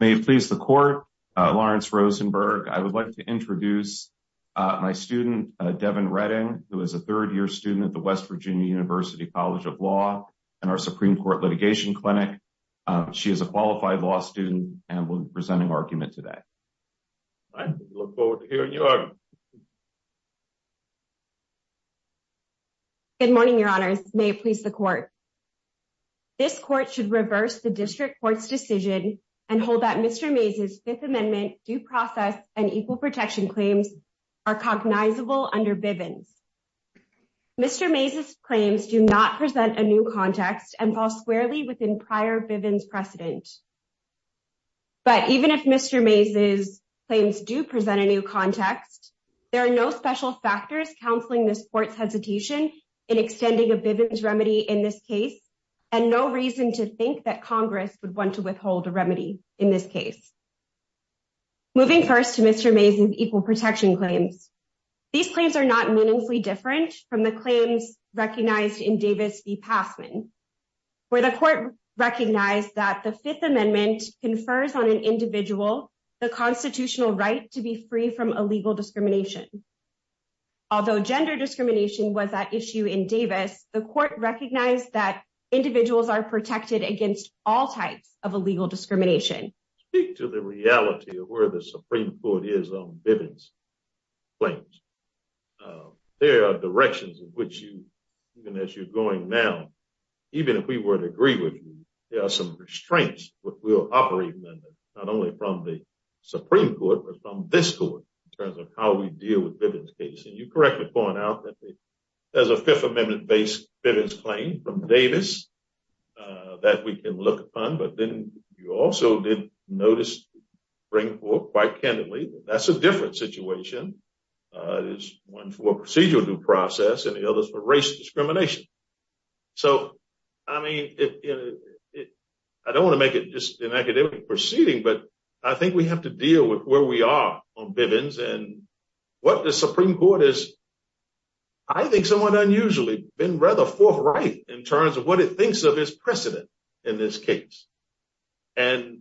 May it please the court, Lawrence Rosenberg, I would like to introduce my student, Devon Redding, who is a third-year student at the West Virginia University College of Law and our Supreme Court Litigation Clinic. She is a qualified law student and will be presenting argument today. I look forward to hearing your argument. Good morning, your honors. May it please the court. This court should reverse the district court's decision and hold that Mr. Mays' Fifth Amendment due process and equal protection claims are cognizable under Bivens. Mr. Mays' claims do not present a new context and fall squarely within prior Bivens precedent. But even if Mr. Mays' claims do present a new context, there are no special factors counseling this court's hesitation in extending a Bivens remedy in this case and no reason to think that Congress would want to withhold a remedy in this case. Moving first to Mr. Mays' equal protection claims, these claims are not meaningfully different from the claims recognized in Davis v. Passman, where the court recognized that the Fifth Amendment confers on an individual the constitutional right to be free from illegal discrimination. Although gender discrimination was at issue in Davis, the court recognized that individuals are protected against all types of illegal discrimination. Speak to the reality of where the Supreme Court is on Bivens claims. There are directions in which you, even as you're going now, even if we were to agree with you, there are some restraints which will operate not only from the Supreme Court but from this court in terms of how we deal with Bivens case. And you correctly point out that there's a Fifth Amendment-based Bivens claim from Davis that we can look upon, but then you also did notice the Supreme Court quite candidly that that's a different situation. There's one for procedural due process and the others for race discrimination. So, I mean, I don't want to make it just an academic proceeding, but I think we have to and what the Supreme Court has, I think, somewhat unusually been rather forthright in terms of what it thinks of as precedent in this case. And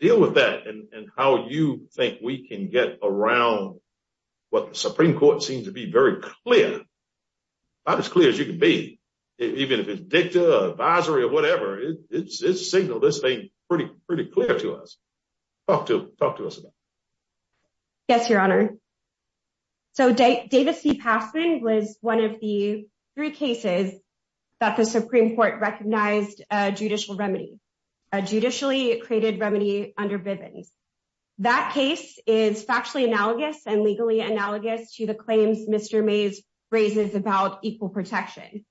deal with that and how you think we can get around what the Supreme Court seems to be very clear, about as clear as you can be, even if it's dicta, advisory, or whatever, it's signaled this thing pretty clear to us. Talk to us about it. Yes, Your Honor. So, Davis v. Passman was one of the three cases that the Supreme Court recognized judicial remedy, a judicially created remedy under Bivens. That case is factually analogous and legally analogous to the claims Mr. Mays raises about equal protection.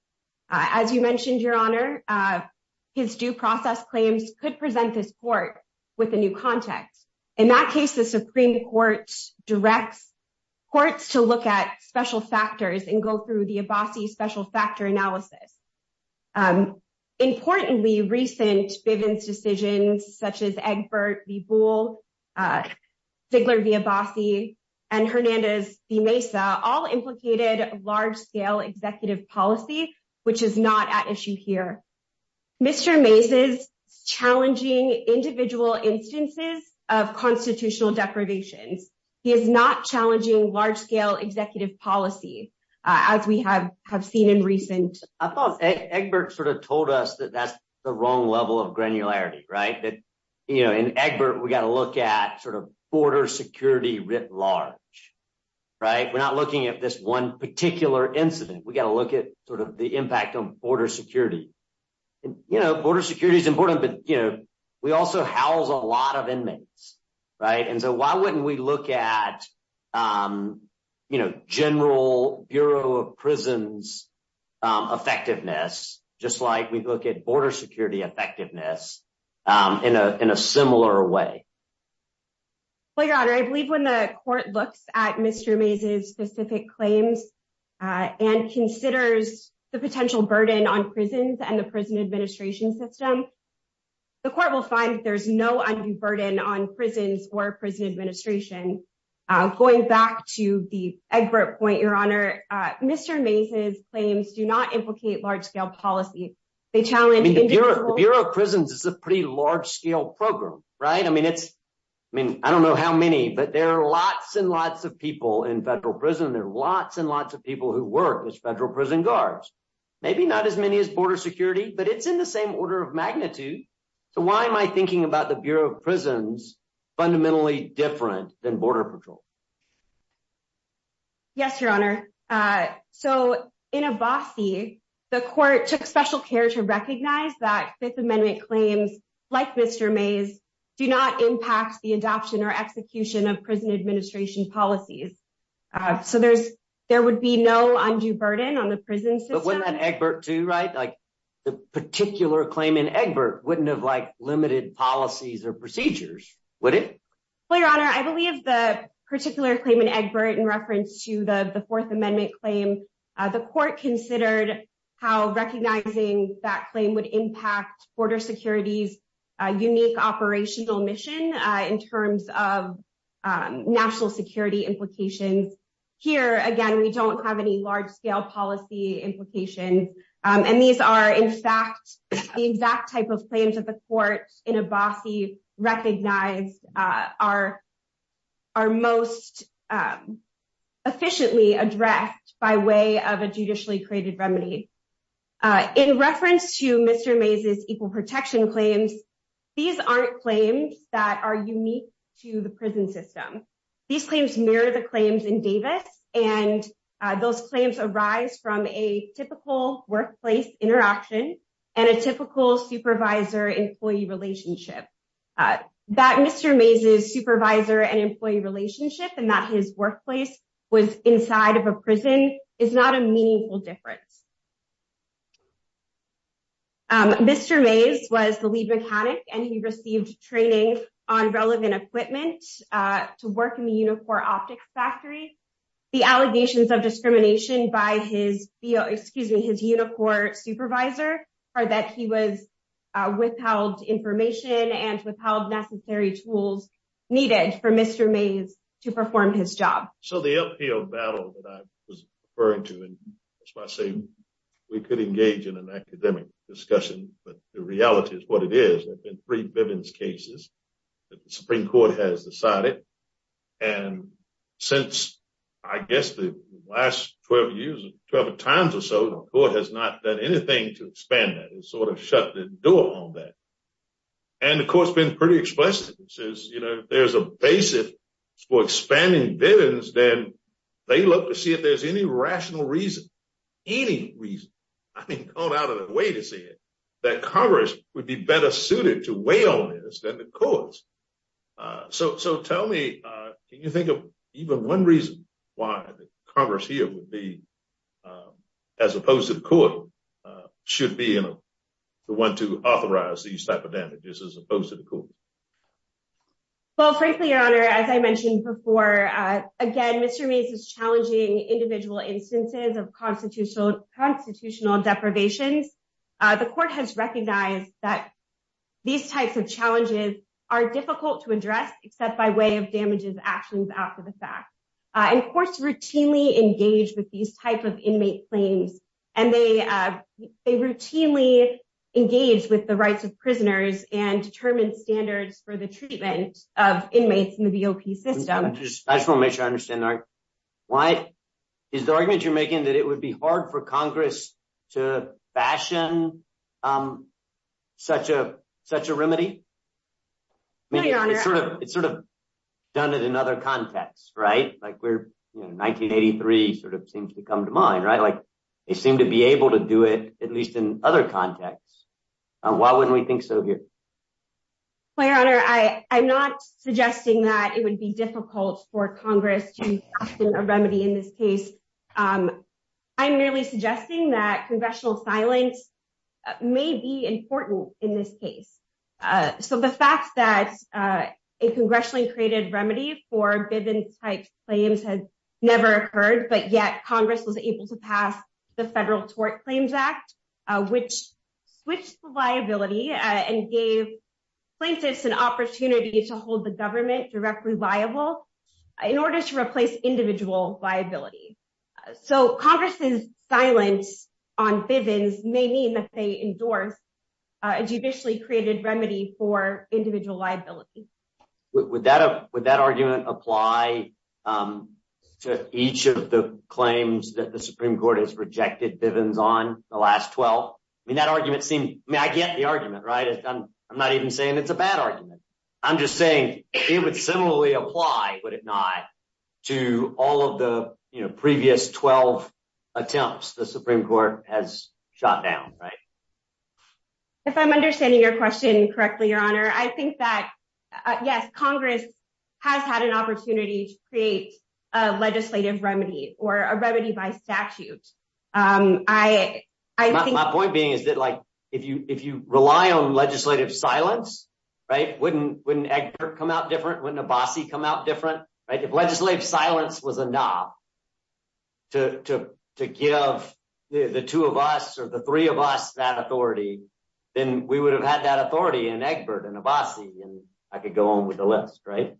As you mentioned, Your Honor, his due process claims could present this court with a new context. In that case, the Supreme Court directs courts to look at special factors and go through the Abbasi special factor analysis. Importantly, recent Bivens decisions, such as Egbert v. Boole, Ziegler v. Abbasi, and Hernandez v. Mesa, all implicated large-scale executive policy, which is not at issue here. Mr. Mays is challenging individual instances of constitutional deprivations. He is not challenging large-scale executive policy, as we have seen in recent... I thought Egbert sort of told us that that's the wrong level of granularity, right? That, you know, in Egbert, we got to look at sort of border security writ large, right? We're not looking at this one particular incident. We got to look at sort of the impact on border security. You know, border security is important, but, you know, we also house a lot of inmates, right? And so why wouldn't we look at, you know, general Bureau of Prisons effectiveness, just like we look at border security effectiveness in a similar way? Well, Your Honor, I believe when the court looks at Mr. Mays' specific claims and considers the potential burden on prisons and the prison administration system, the court will find that there's no undue burden on prisons or prison administration. Going back to the Egbert point, Your Honor, Mr. Mays' claims do not implicate large-scale policy. They challenge... I mean, the Bureau of Prisons is a pretty large-scale program, right? I mean, it's... I mean, I don't know how many, but there are lots and lots of people in federal prison. There are lots and lots of people who work as federal prison guards. Maybe not as many as border security, but it's in the same order of magnitude. So why am I thinking about the Bureau of Prisons fundamentally different than Border Patrol? Yes, Your Honor. So in Abbasi, the court took special care to recognize that Fifth Amendment claims, like Mr. Mays', do not impact the adoption or execution of prison administration policies. So there's... there would be no undue burden on the prison system. Wasn't that Egbert too, right? Like the particular claim in Egbert wouldn't have, like, limited policies or procedures, would it? Well, Your Honor, I believe the particular claim in Egbert in reference to the Fourth Amendment claim, the court considered how a unique operational mission in terms of national security implications. Here, again, we don't have any large-scale policy implications. And these are, in fact, the exact type of claims that the court in Abbasi recognized are most efficiently addressed by way of a judicially created remedy. In reference to Mr. Mays' equal protection claims, these aren't claims that are unique to the prison system. These claims mirror the claims in Davis, and those claims arise from a typical workplace interaction and a typical supervisor-employee relationship. That Mr. Mays' supervisor-employee relationship and that his workplace was inside of a prison is not a meaningful difference. Mr. Mays was the lead mechanic, and he received training on relevant equipment to work in the Unicor Optics Factory. The allegations of discrimination by his Unicor supervisor are that he was without information and without necessary tools needed for Mr. Mays to perform his job. So the uphill battle that I was referring to, and that's why I say we could engage in an academic discussion, but the reality is what it is. There have been three Bivens cases that the Supreme Court has decided, and since, I guess, the last 12 years, 12 times or so, the court has not done anything to expand that. It sort of shut the door on that, and the court's been pretty explicit. It says, you know, if there's a basis for expanding Bivens, then they'd love to see if there's any rational reason, any reason, I mean, gone out of the way to say it, that Congress would be better suited to weigh on this than the courts. So tell me, can you think of even one reason why the Congress here would be, as opposed to the court, should be the one to authorize these type of damages as opposed to the court? Well, frankly, Your Honor, as I mentioned before, again, Mr. Mays is challenging individual instances of constitutional deprivations. The court has recognized that these types of challenges are difficult to address except by way of damages actions after the fact, and courts routinely engage with these type of inmate claims, and they routinely engage with the rights of prisoners and determine standards for the treatment of inmates in the BOP system. I just want to make sure I understand the argument. Is the argument you're making that it would be hard for Congress to fashion such a remedy? No, Your Honor. It's sort of done it in other contexts, right? Like we're, you know, 1983 sort of seems to come to mind, right? Like they seem to be able to do it, at least in other contexts. Why wouldn't we think so here? Well, Your Honor, I'm not suggesting that it would be difficult for Congress to remedy in this case. I'm merely suggesting that congressional silence may be important in this case. So the fact that a congressionally created remedy for Bivens-type claims has never occurred, but yet Congress was able to pass the Federal Tort Claims Act, which switched the liability and gave plaintiffs an opportunity to hold the government directly liable in order to replace individual liability. So Congress's silence on Bivens may mean that they endorse a judicially created remedy for individual liability. Would that argument apply to each of the claims that the Supreme Court has rejected Bivens on the last 12? I mean, I get the argument, right? I'm not even saying it's a bad argument. I'm just saying it would similarly apply, would it not, to all of the previous 12 attempts the Supreme Court has shot down, right? If I'm understanding your question correctly, Your Honor, I think that, yes, Congress has had an opportunity to create a legislative remedy or a remedy by statute. My point being is that if you rely on legislative silence, wouldn't Egbert come out different? Wouldn't Abbasi come out different, right? If legislative silence was a knob to give the two of us or the three of us that authority, then we would have had that authority in Egbert and Abbasi, and I could go on with the list, right?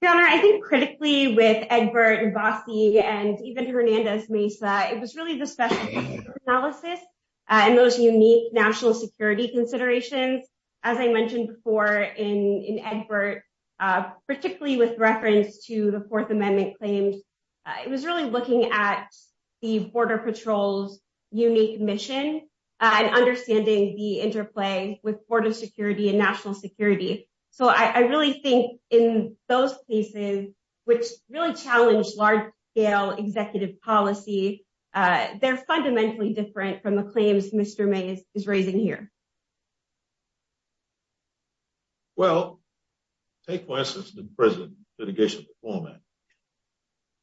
Your Honor, I think critically with Egbert, Abbasi, and even Hernandez Mesa, it was really the special analysis and those unique national security considerations, as I mentioned before in Egbert, particularly with reference to the Fourth Amendment claims, it was really looking at the Border Patrol's unique mission and understanding the interplay with border security and national security. So I really think in those cases, which really challenged large scale executive policy, they're fundamentally different from the claims Mr. Mesa is raising here. Well, take, for instance, the prison litigation performance.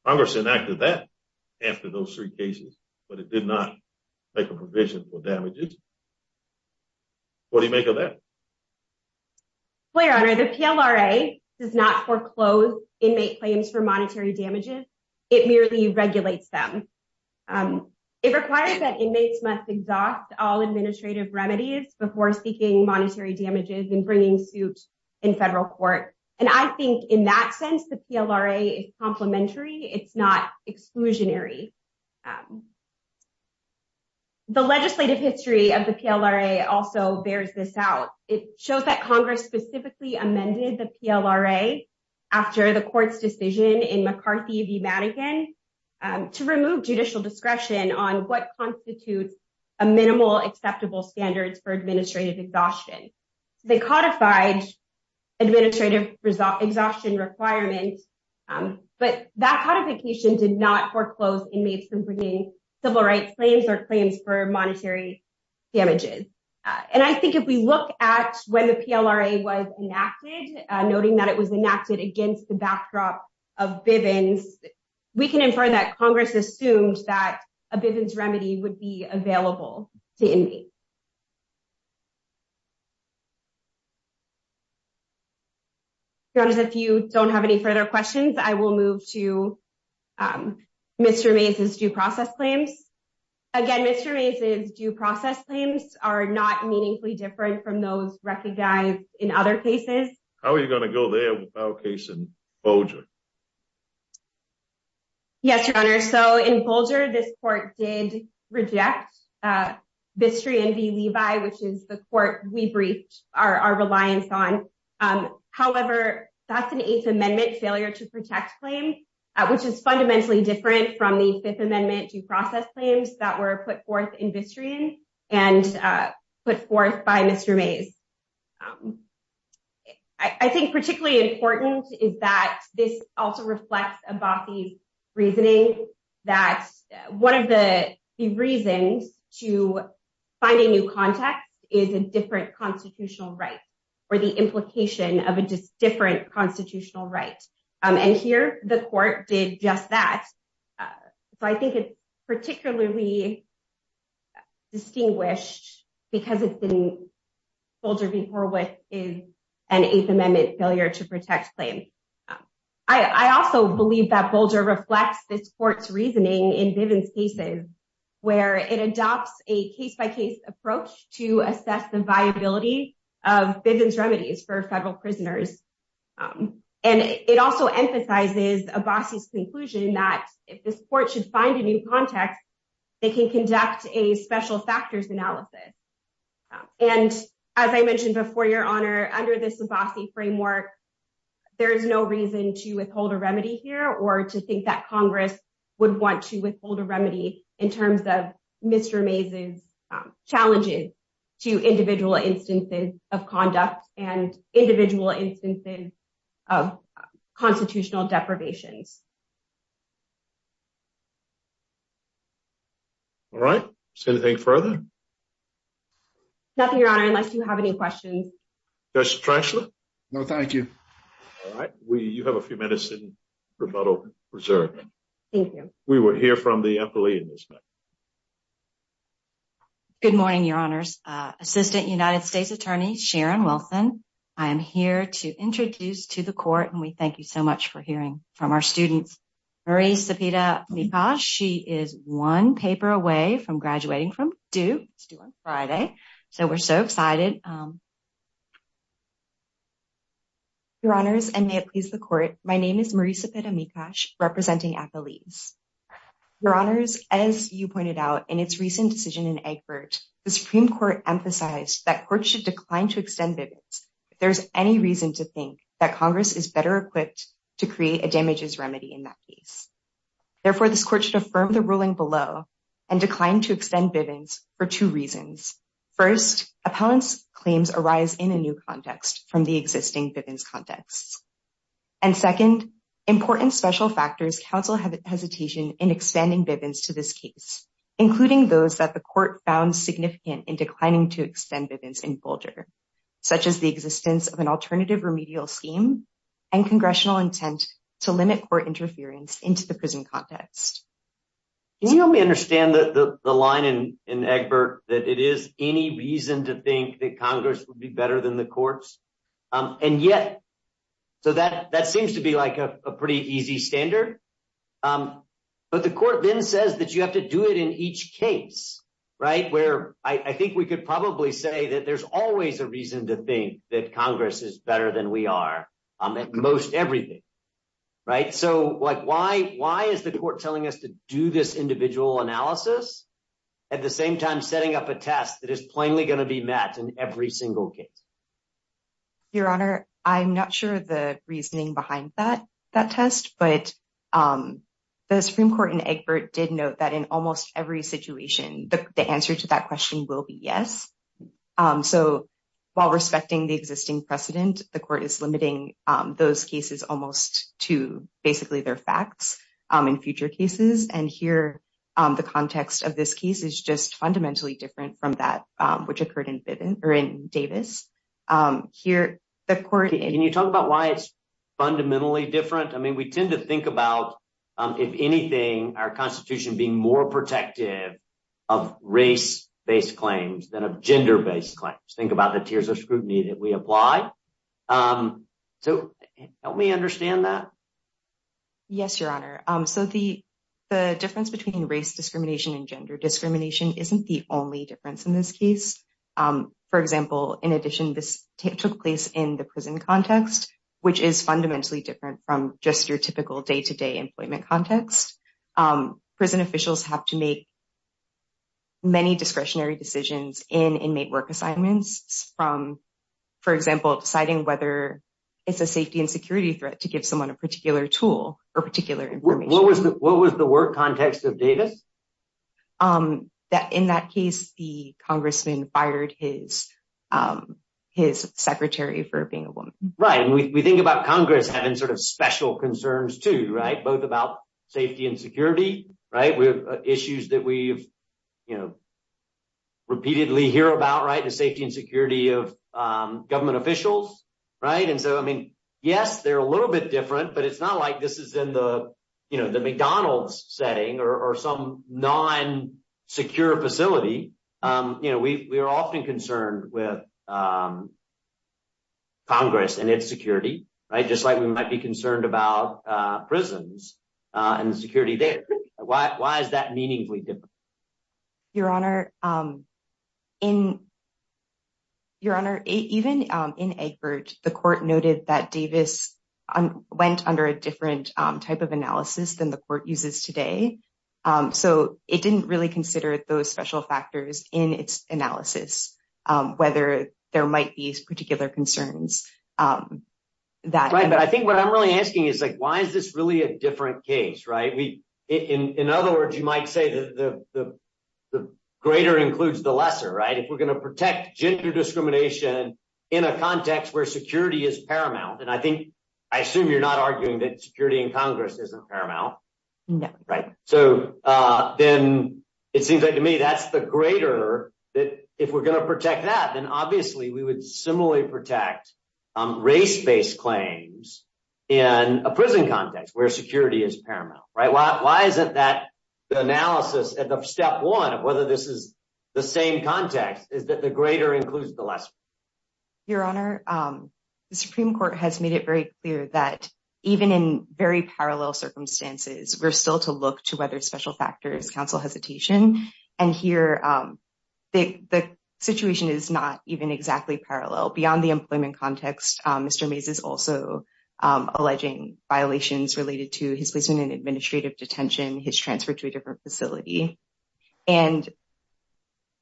Congress enacted that after those three cases, but it did not make a provision for damages. What do you make of that? Well, Your Honor, the PLRA does not foreclose inmate claims for administrative remedies before seeking monetary damages and bringing suit in federal court. And I think in that sense, the PLRA is complimentary. It's not exclusionary. The legislative history of the PLRA also bears this out. It shows that Congress specifically amended the PLRA after the court's decision in McCarthy v. Madigan to remove judicial discretion on what constitutes a minimal acceptable standards for administrative exhaustion. They codified administrative exhaustion requirements, but that codification did not foreclose inmates from bringing civil rights claims or claims for monetary damages. And I think if we look at when the PLRA was enacted, noting that it was enacted against the backdrop of Bivens, we can infer that Congress assumed that a Bivens remedy would be available to inmates. Your Honor, if you don't have any further questions, I will move to Mr. Mesa's due process claims. Again, Mr. Mesa's due process claims are not meaningfully different from those recognized in other cases. How are you going to go there with our case in Bolger? Yes, Your Honor. So in Bolger, this court did reject Bistrian v. Levi, which is the court we briefed our reliance on. However, that's an Eighth Amendment failure to protect claim, which is fundamentally different from the Fifth Amendment due process claims that were put forth in Bistrian and put forth by Mr. Mesa. I think particularly important is that this also reflects Abbati's reasoning that one of the reasons to find a new context is a different constitutional right or the implication of a different constitutional right. And here, the court did just that. So I think it's particularly distinguished because it's been Bolger v. Horwitz is an Eighth Amendment failure to protect claim. I also believe that Bolger reflects this court's reasoning in Bivens cases, where it adopts a case-by-case approach to assess the viability of Bivens remedies for federal prisoners. And it also emphasizes Abbati's conclusion that if this court should find a new context, they can conduct a special factors analysis. And as I mentioned before, Your Honor, under this Abbati framework, there is no reason to withhold a remedy here or to think that Congress would want to withhold a remedy in terms of Mr. Mesa's challenges to individual instances of conduct and individual instances of constitutional deprivations. All right. Is there anything further? Nothing, Your Honor, unless you have any questions. Justice Trenchlet? No, thank you. All right. You have a few minutes in rebuttal reserve. Thank you. We will hear from the employee in this matter. Good morning, Your Honors. Assistant United States Attorney Sharon Wilson, I am here to introduce to the court, and we thank you so much for hearing from our students. Marie Cepeda-Mikosh, she is one paper away from graduating from Duke on Friday, so we're so excited. Your Honors, and may it please the court, my name is Marie Cepeda-Mikosh, representing Acolise. Your Honors, as you pointed out in its recent decision in Egbert, the Supreme Court emphasized that courts should decline to extend Bivens if there's any reason to think that Congress is better equipped to create a damages remedy in that case. Therefore, this court should affirm the ruling below and decline to extend Bivens for two reasons. First, opponents' claims arise in a new context from the existing Bivens context. And second, important special factors counsel hesitation in expanding Bivens to this case, including those that the court found significant in declining to extend Bivens in Folger, such as the existence of an alternative remedial scheme and congressional intent to limit court interference into the prison context. Can you help me understand the line in Egbert that it is any reason to think that Congress would be better than the courts? And yet, so that seems to be like a pretty easy standard. But the court then says that you have to do it in each case, right, where I think we could probably say that there's always a reason to think that Congress is better than we are in most everything, right? So, like, why is the court telling us to do this individual analysis at the same time setting up a test that is plainly going to be met in every single case? Your Honor, I'm not sure the reasoning behind that test, but the Supreme Court in Egbert did note that in almost every situation, the answer to that question will be yes. So, while respecting the existing precedent, the court is limiting those cases almost to their facts in future cases. And here, the context of this case is just fundamentally different from that which occurred in Davis. Can you talk about why it's fundamentally different? I mean, we tend to think about, if anything, our Constitution being more protective of race-based claims than of gender-based claims. Think about the tiers of scrutiny that we apply. So, help me understand that. Yes, Your Honor. So, the difference between race discrimination and gender discrimination isn't the only difference in this case. For example, in addition, this took place in the prison context, which is fundamentally different from just your typical day-to-day employment context. Prison officials have to make many discretionary decisions in inmate work assignments from, for example, deciding whether it's a safety and security threat to give someone a particular tool or particular information. What was the work context of Davis? In that case, the congressman fired his secretary for being a woman. Right. And we think about Congress having sort of special concerns, too, right? Both about safety and security, right? We have issues that we've, you know, repeatedly hear about, right? The safety and security of government officials, right? And so, I mean, yes, they're a little bit different, but it's not like this is in the McDonald's setting or some non-secure facility. You know, we are often concerned with Congress and its security, right? Just like we might be concerned about prisons and the security there. Why is that meaningfully different? Your Honor, even in Egbert, the court noted that Davis went under a different type of analysis than the court uses today. So, it didn't really consider those special factors in its analysis, whether there might be particular concerns. Right. But I think what I'm really asking is, like, why is this really a different case, right? In other words, you might say the greater includes the lesser, right? If we're going to protect gender discrimination in a context where security is paramount, and I think, I assume you're not arguing that security in Congress isn't paramount. No. So, then it seems like to me that's the greater that if we're going to protect that, then obviously we would similarly protect race-based claims in a prison context where security is paramount, right? Why isn't that the analysis at the step one of whether this is the same context is that the greater includes the lesser? Your Honor, the Supreme Court has made it very clear that even in very parallel circumstances, we're still to look to whether special factors counsel hesitation. And here, the situation is not even exactly parallel. Beyond the employment context, Mr. Mays is also alleging violations related to his placement in administrative detention, his transfer to a different facility. And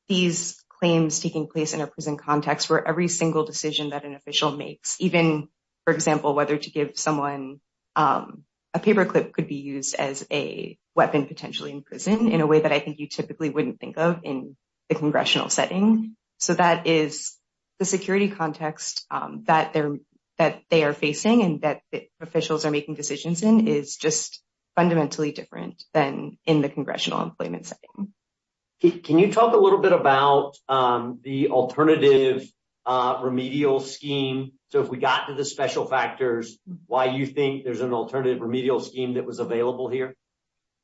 these claims taking place in a prison context where every single decision that an official makes, even, for example, whether to give someone a paperclip could be used as a weapon potentially in prison in a way that I think you typically wouldn't think of in the congressional setting. So, that is the security context that they are facing and that officials are making decisions in is just fundamentally different than in the congressional employment setting. Can you talk a little bit about the alternative remedial scheme? So, if we got to the special factors, why you think there's an alternative remedial scheme that was available here?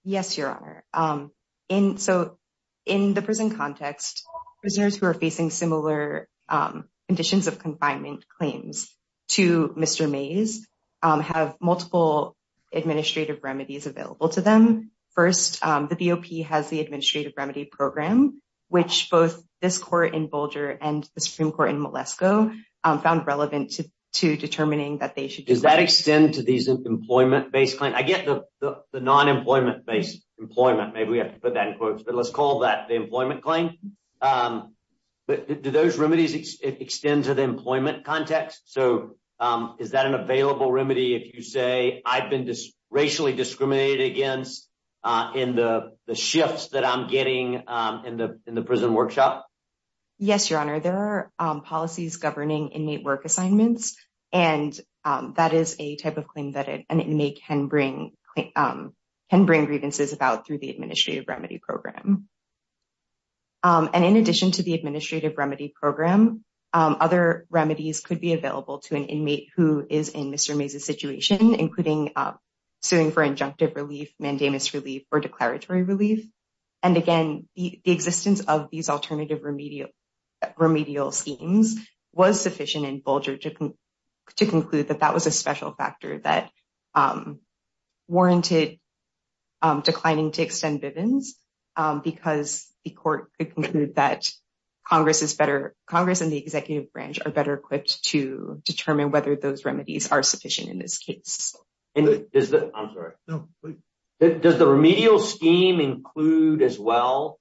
Yes, Your Honor. So, in the prison context, prisoners who are facing similar conditions of confinement claims to Mr. Mays have multiple administrative remedies available to them. First, the BOP has the administrative remedy program, which both this court in Bulger and the Supreme Court in Moleskoe found relevant to determining that they should- Does that extend to these employment-based claims? I get the non-employment-based employment, maybe we have to put that in quotes, but let's call that the employment claim. Do those remedies extend to the employment context? So, is that an available remedy if you say, I've been racially discriminated against in the shifts that I'm getting in the prison workshop? Yes, Your Honor. There are policies governing inmate work assignments and that is a type of claim that an inmate can bring grievances about through the administrative remedy program. And in addition to the administrative remedy program, other remedies could be available to an inmate who is in Mr. Mays' situation, including suing for injunctive relief, mandamus relief, or declaratory relief. And again, the existence of these alternative remedial schemes was sufficient in Bulger to conclude that that was a special factor that warranted declining to extend Bivens because the court could conclude that Congress and the executive branch are better equipped to determine whether those remedies are sufficient in this case. I'm sorry. Does the remedial scheme include as well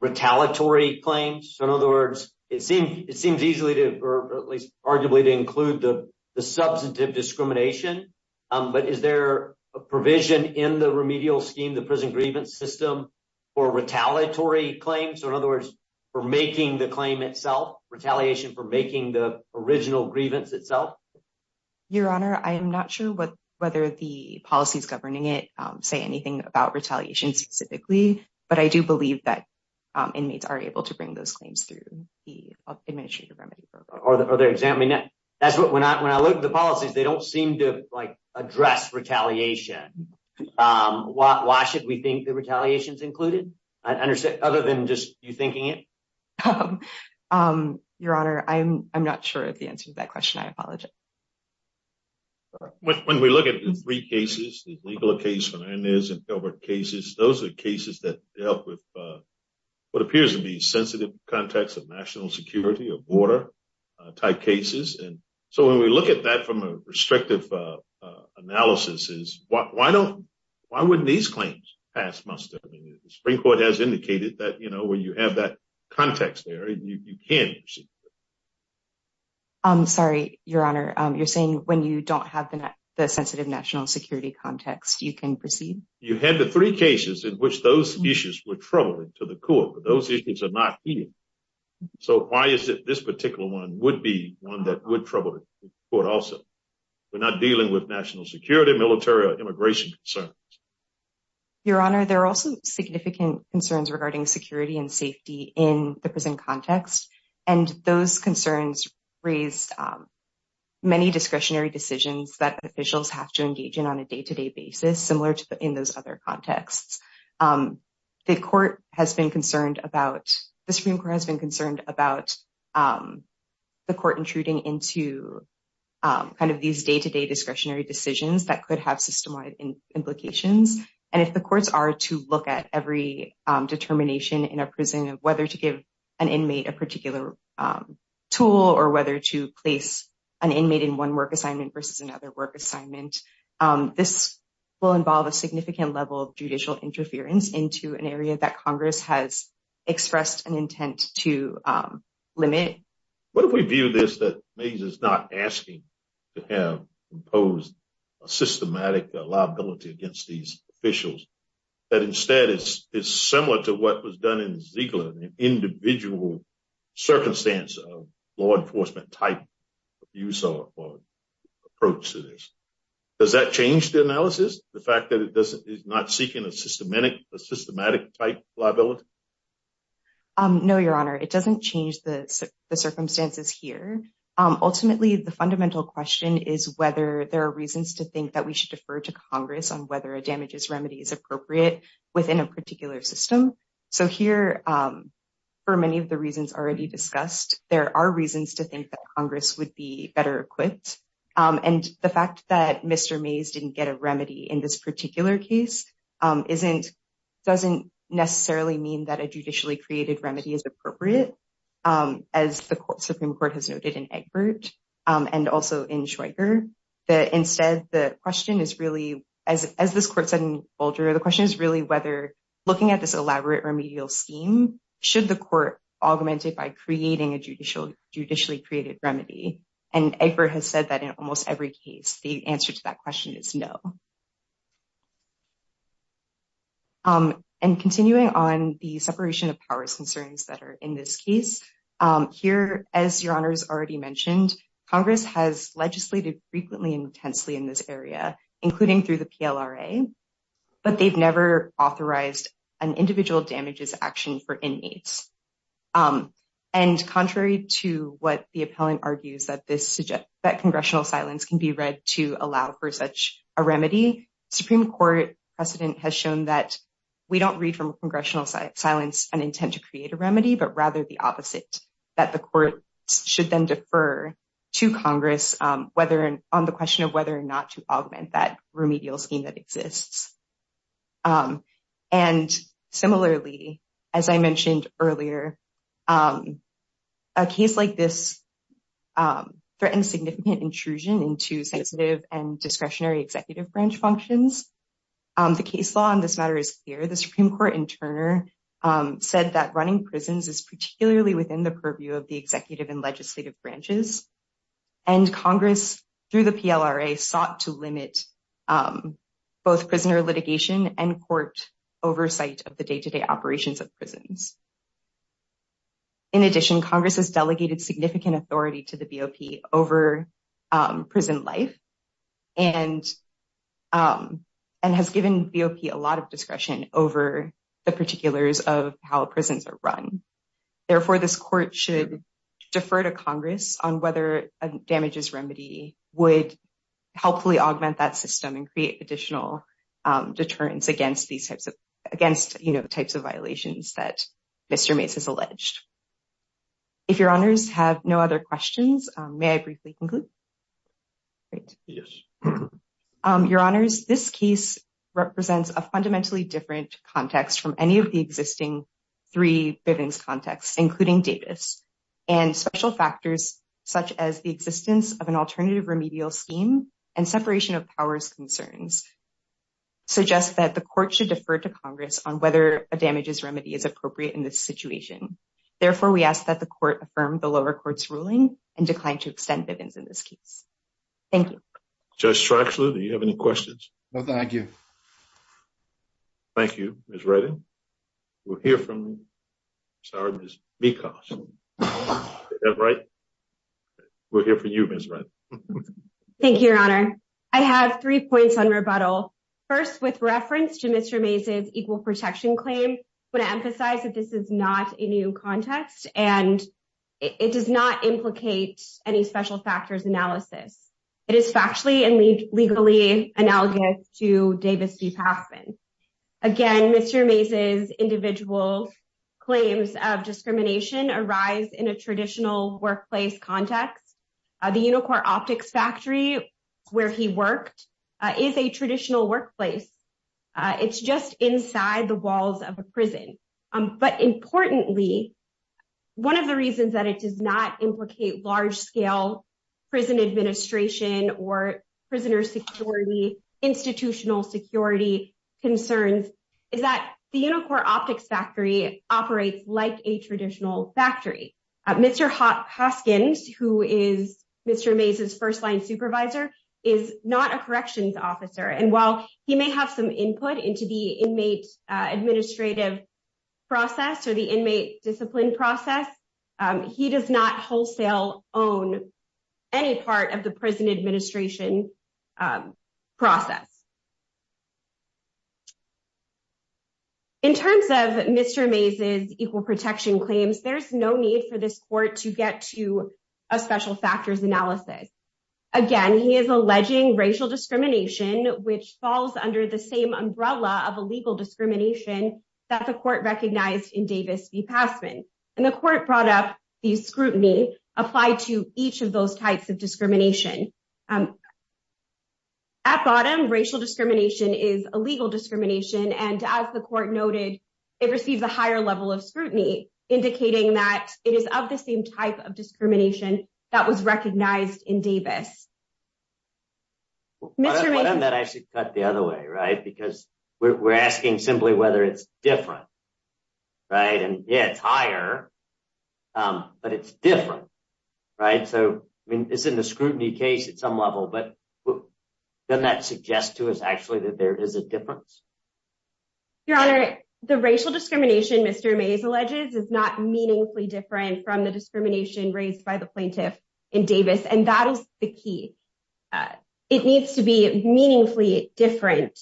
retaliatory claims? So in other words, it seems easily to, or at least arguably to include the substantive discrimination, but is there a provision in the remedial scheme, the prison grievance system, for retaliatory claims? So in other words, for making the claim itself, retaliation for making the original grievance itself? Your Honor, I am not sure whether the policies governing it say anything about retaliation specifically, but I do believe that inmates are able to bring those claims through the administrative remedy program. Are they examining that? That's what, when I look at the policies, they don't seem to address retaliation. Why should we think that retaliation is included? I understand, other than just you thinking it? Your Honor, I'm not sure if the answer to that question, I apologize. When we look at the three cases, the legal case from Inez and Gilbert cases, those are the cases that dealt with what appears to be sensitive contacts of national security or border-type cases. And so when we look at that from a restrictive analysis is, why wouldn't these claims pass muster? I mean, the Supreme Court has indicated that when you have that context there, you can proceed. Sorry, Your Honor. You're saying when you don't have the sensitive national security context, you can proceed? You had the three cases in which those issues were troubling to the court, but those issues are not here. So why is it this particular one would be one that would trouble the court also? We're not dealing with national security, military, or immigration concerns. Your Honor, there are also significant concerns regarding security and safety in the prison context. And those concerns raise many discretionary decisions that officials have to engage in on a day-to-day basis, similar to in those other contexts. The Supreme Court has been concerned about the court intruding into kind of these day-to-day discretionary decisions that could have system-wide implications. And if the courts are to look at every determination in a prison of whether to give an inmate a particular tool or whether to place an inmate in one work assignment versus another work assignment, this will involve a significant level of judicial interference into an area that Congress has expressed an intent to limit. What if we view this that Mays is not asking to have imposed a systematic liability against these officials, but instead is similar to what was done in Ziegler, an individual circumstance of law enforcement type of use or approach to this? Does that change the analysis, the fact that it is not seeking a systematic type liability? No, Your Honor. It doesn't change the circumstances here. Ultimately, the fundamental question is whether there are reasons to think that we should defer to Congress on whether a damages remedy is appropriate within a particular system. So here, for many of the reasons already discussed, there are reasons to think that Congress would be better equipped. And the fact that Mr. Mays didn't get a remedy in this particular case doesn't necessarily mean that a judicially created remedy is appropriate, as the Supreme Court has noted in Egbert and also in Schweiger. Instead, the question is really, as this court said in Boulder, the question is really whether looking at this elaborate remedial scheme, should the court augment it by creating a judicially created remedy? And Egbert has said that in almost every case, the answer to that question is no. And continuing on the separation of powers concerns that are in this case, here, as Your Honor has already mentioned, Congress has legislated frequently and intensely in this area, including through the PLRA, but they've never authorized an individual damages action for inmates. And contrary to what the appellant argues, that congressional silence can be read to allow for such a remedy, Supreme Court precedent has shown that we don't read from congressional silence an intent to create a remedy, but rather the opposite, that the court should then defer to Congress on the issue of the case. And similarly, as I mentioned earlier, a case like this threatens significant intrusion into sensitive and discretionary executive branch functions. The case law on this matter is clear. The Supreme Court, in turn, said that running prisons is particularly within the purview of the executive and legislative branches. And Congress through the PLRA sought to limit both prisoner litigation and court oversight of the day-to-day operations of prisons. In addition, Congress has delegated significant authority to the BOP over prison life and and has given BOP a lot of discretion over the particulars of how prisons are run. Therefore, this court should defer to Congress on whether a damages remedy would helpfully augment that system and create additional deterrence against these types of violations that Mr. Mase has alleged. If your honors have no other questions, may I briefly conclude? Your honors, this case represents a fundamentally different context from any of the existing three Bivens contexts, including Davis. And special factors such as the existence of an alternative remedial scheme and separation of powers concerns suggest that the court should defer to Congress on whether a damages remedy is appropriate in this situation. Therefore, we ask that the court affirm the lower court's ruling and decline to extend Bivens in this case. Thank you. Judge Streisand, do you have any questions? No, thank you. Thank you, Ms. Redding. We'll hear from, sorry, Ms. Mekos. Is that right? We'll hear from you, Ms. Redding. Thank you, your honor. I have three points on rebuttal. First, with reference to Mr. Mase's equal protection claim, I want to emphasize that this is not a new context and it does not happen. Again, Mr. Mase's individual claims of discrimination arise in a traditional workplace context. The Unicorn Optics Factory, where he worked, is a traditional workplace. It's just inside the walls of a prison. But importantly, one of the reasons that it does not implicate large-scale prison administration or prisoner security, institutional security concerns, is that the Unicorn Optics Factory operates like a traditional factory. Mr. Hoskins, who is Mr. Mase's first-line supervisor, is not a corrections officer. And while he may have some input into the own any part of the prison administration process. In terms of Mr. Mase's equal protection claims, there's no need for this court to get to a special factors analysis. Again, he is alleging racial discrimination, which falls under the same umbrella of illegal discrimination that the court recognized in Davis v. Passman. And the court brought up the scrutiny applied to each of those types of discrimination. At bottom, racial discrimination is illegal discrimination. And as the court noted, it receives a higher level of scrutiny, indicating that it is of the same type of discrimination that was recognized in Davis. Mr. Mase. Why don't I actually cut the other way, right? Because we're asking simply whether it's different, right? And yeah, it's higher, but it's different, right? So, I mean, it's in the scrutiny case at some level, but doesn't that suggest to us actually that there is a difference? Your Honor, the racial discrimination Mr. Mase alleges is not meaningfully different from the discrimination raised by the plaintiff in Davis. And that is the key. It needs to be important.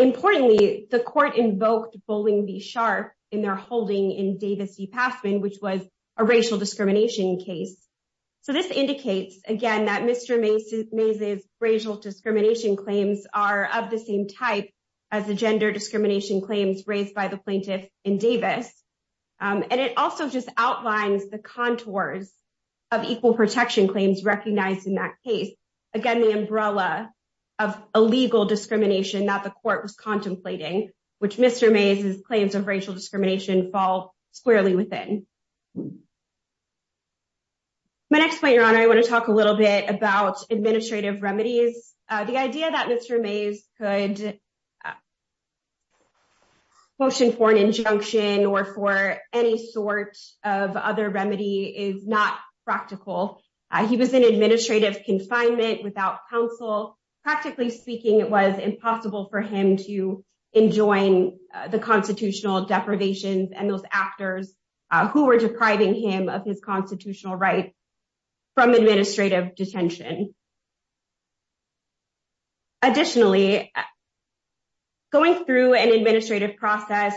Importantly, the court invoked Bowling v. Sharpe in their holding in Davis v. Passman, which was a racial discrimination case. So, this indicates, again, that Mr. Mase's racial discrimination claims are of the same type as the gender discrimination claims raised by the plaintiff in Davis. And it also just outlines the contours of equal protection claims recognized in that case. Again, the umbrella of illegal discrimination that the court was contemplating, which Mr. Mase's claims of racial discrimination fall squarely within. My next point, Your Honor, I want to talk a little bit about administrative remedies. The idea that Mr. Mase could motion for an injunction or for any sort of other remedy is not practical. He was in administrative confinement without counsel. Practically speaking, it was impossible for him to enjoin the constitutional deprivations and those actors who were depriving him of his constitutional rights from administrative detention. Additionally, going through an administrative process,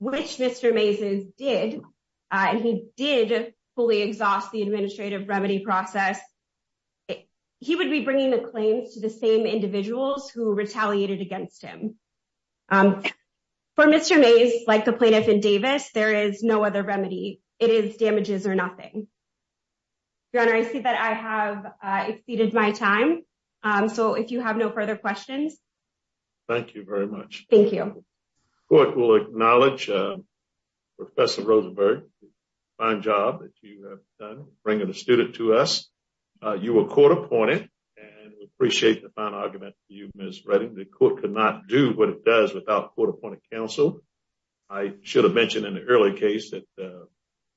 which Mr. Mase did, and he did exhaust the administrative remedy process, he would be bringing the claims to the same individuals who retaliated against him. For Mr. Mase, like the plaintiff in Davis, there is no other remedy. It is damages or nothing. Your Honor, I see that I have exceeded my time. So, if you have no further questions. Thank you very much. Thank you. The court will acknowledge Professor Rosenberg for the fine job that you have done in bringing a student to us. You were court-appointed and we appreciate the fine argument for you, Ms. Redding. The court could not do what it does without court-appointed counsel. I should have mentioned in the earlier case that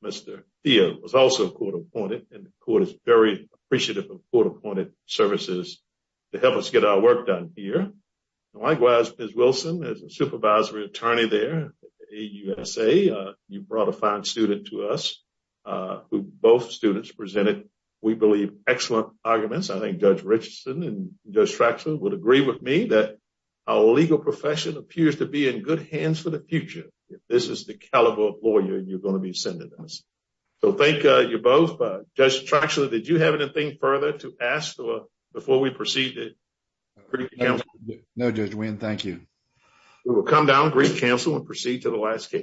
Mr. Theo was also court-appointed and the court is very appreciative of court-appointed services to help us get our work done here. Likewise, Ms. Wilson, as the supervisory attorney there at the AUSA, you brought a fine student to us who both students presented, we believe, excellent arguments. I think Judge Richardson and Judge Traxler would agree with me that our legal profession appears to be in good hands for the future if this is the caliber of lawyer you're going to be sending us. So, thank you both. Judge Traxler, did you have anything further to proceed to the last case?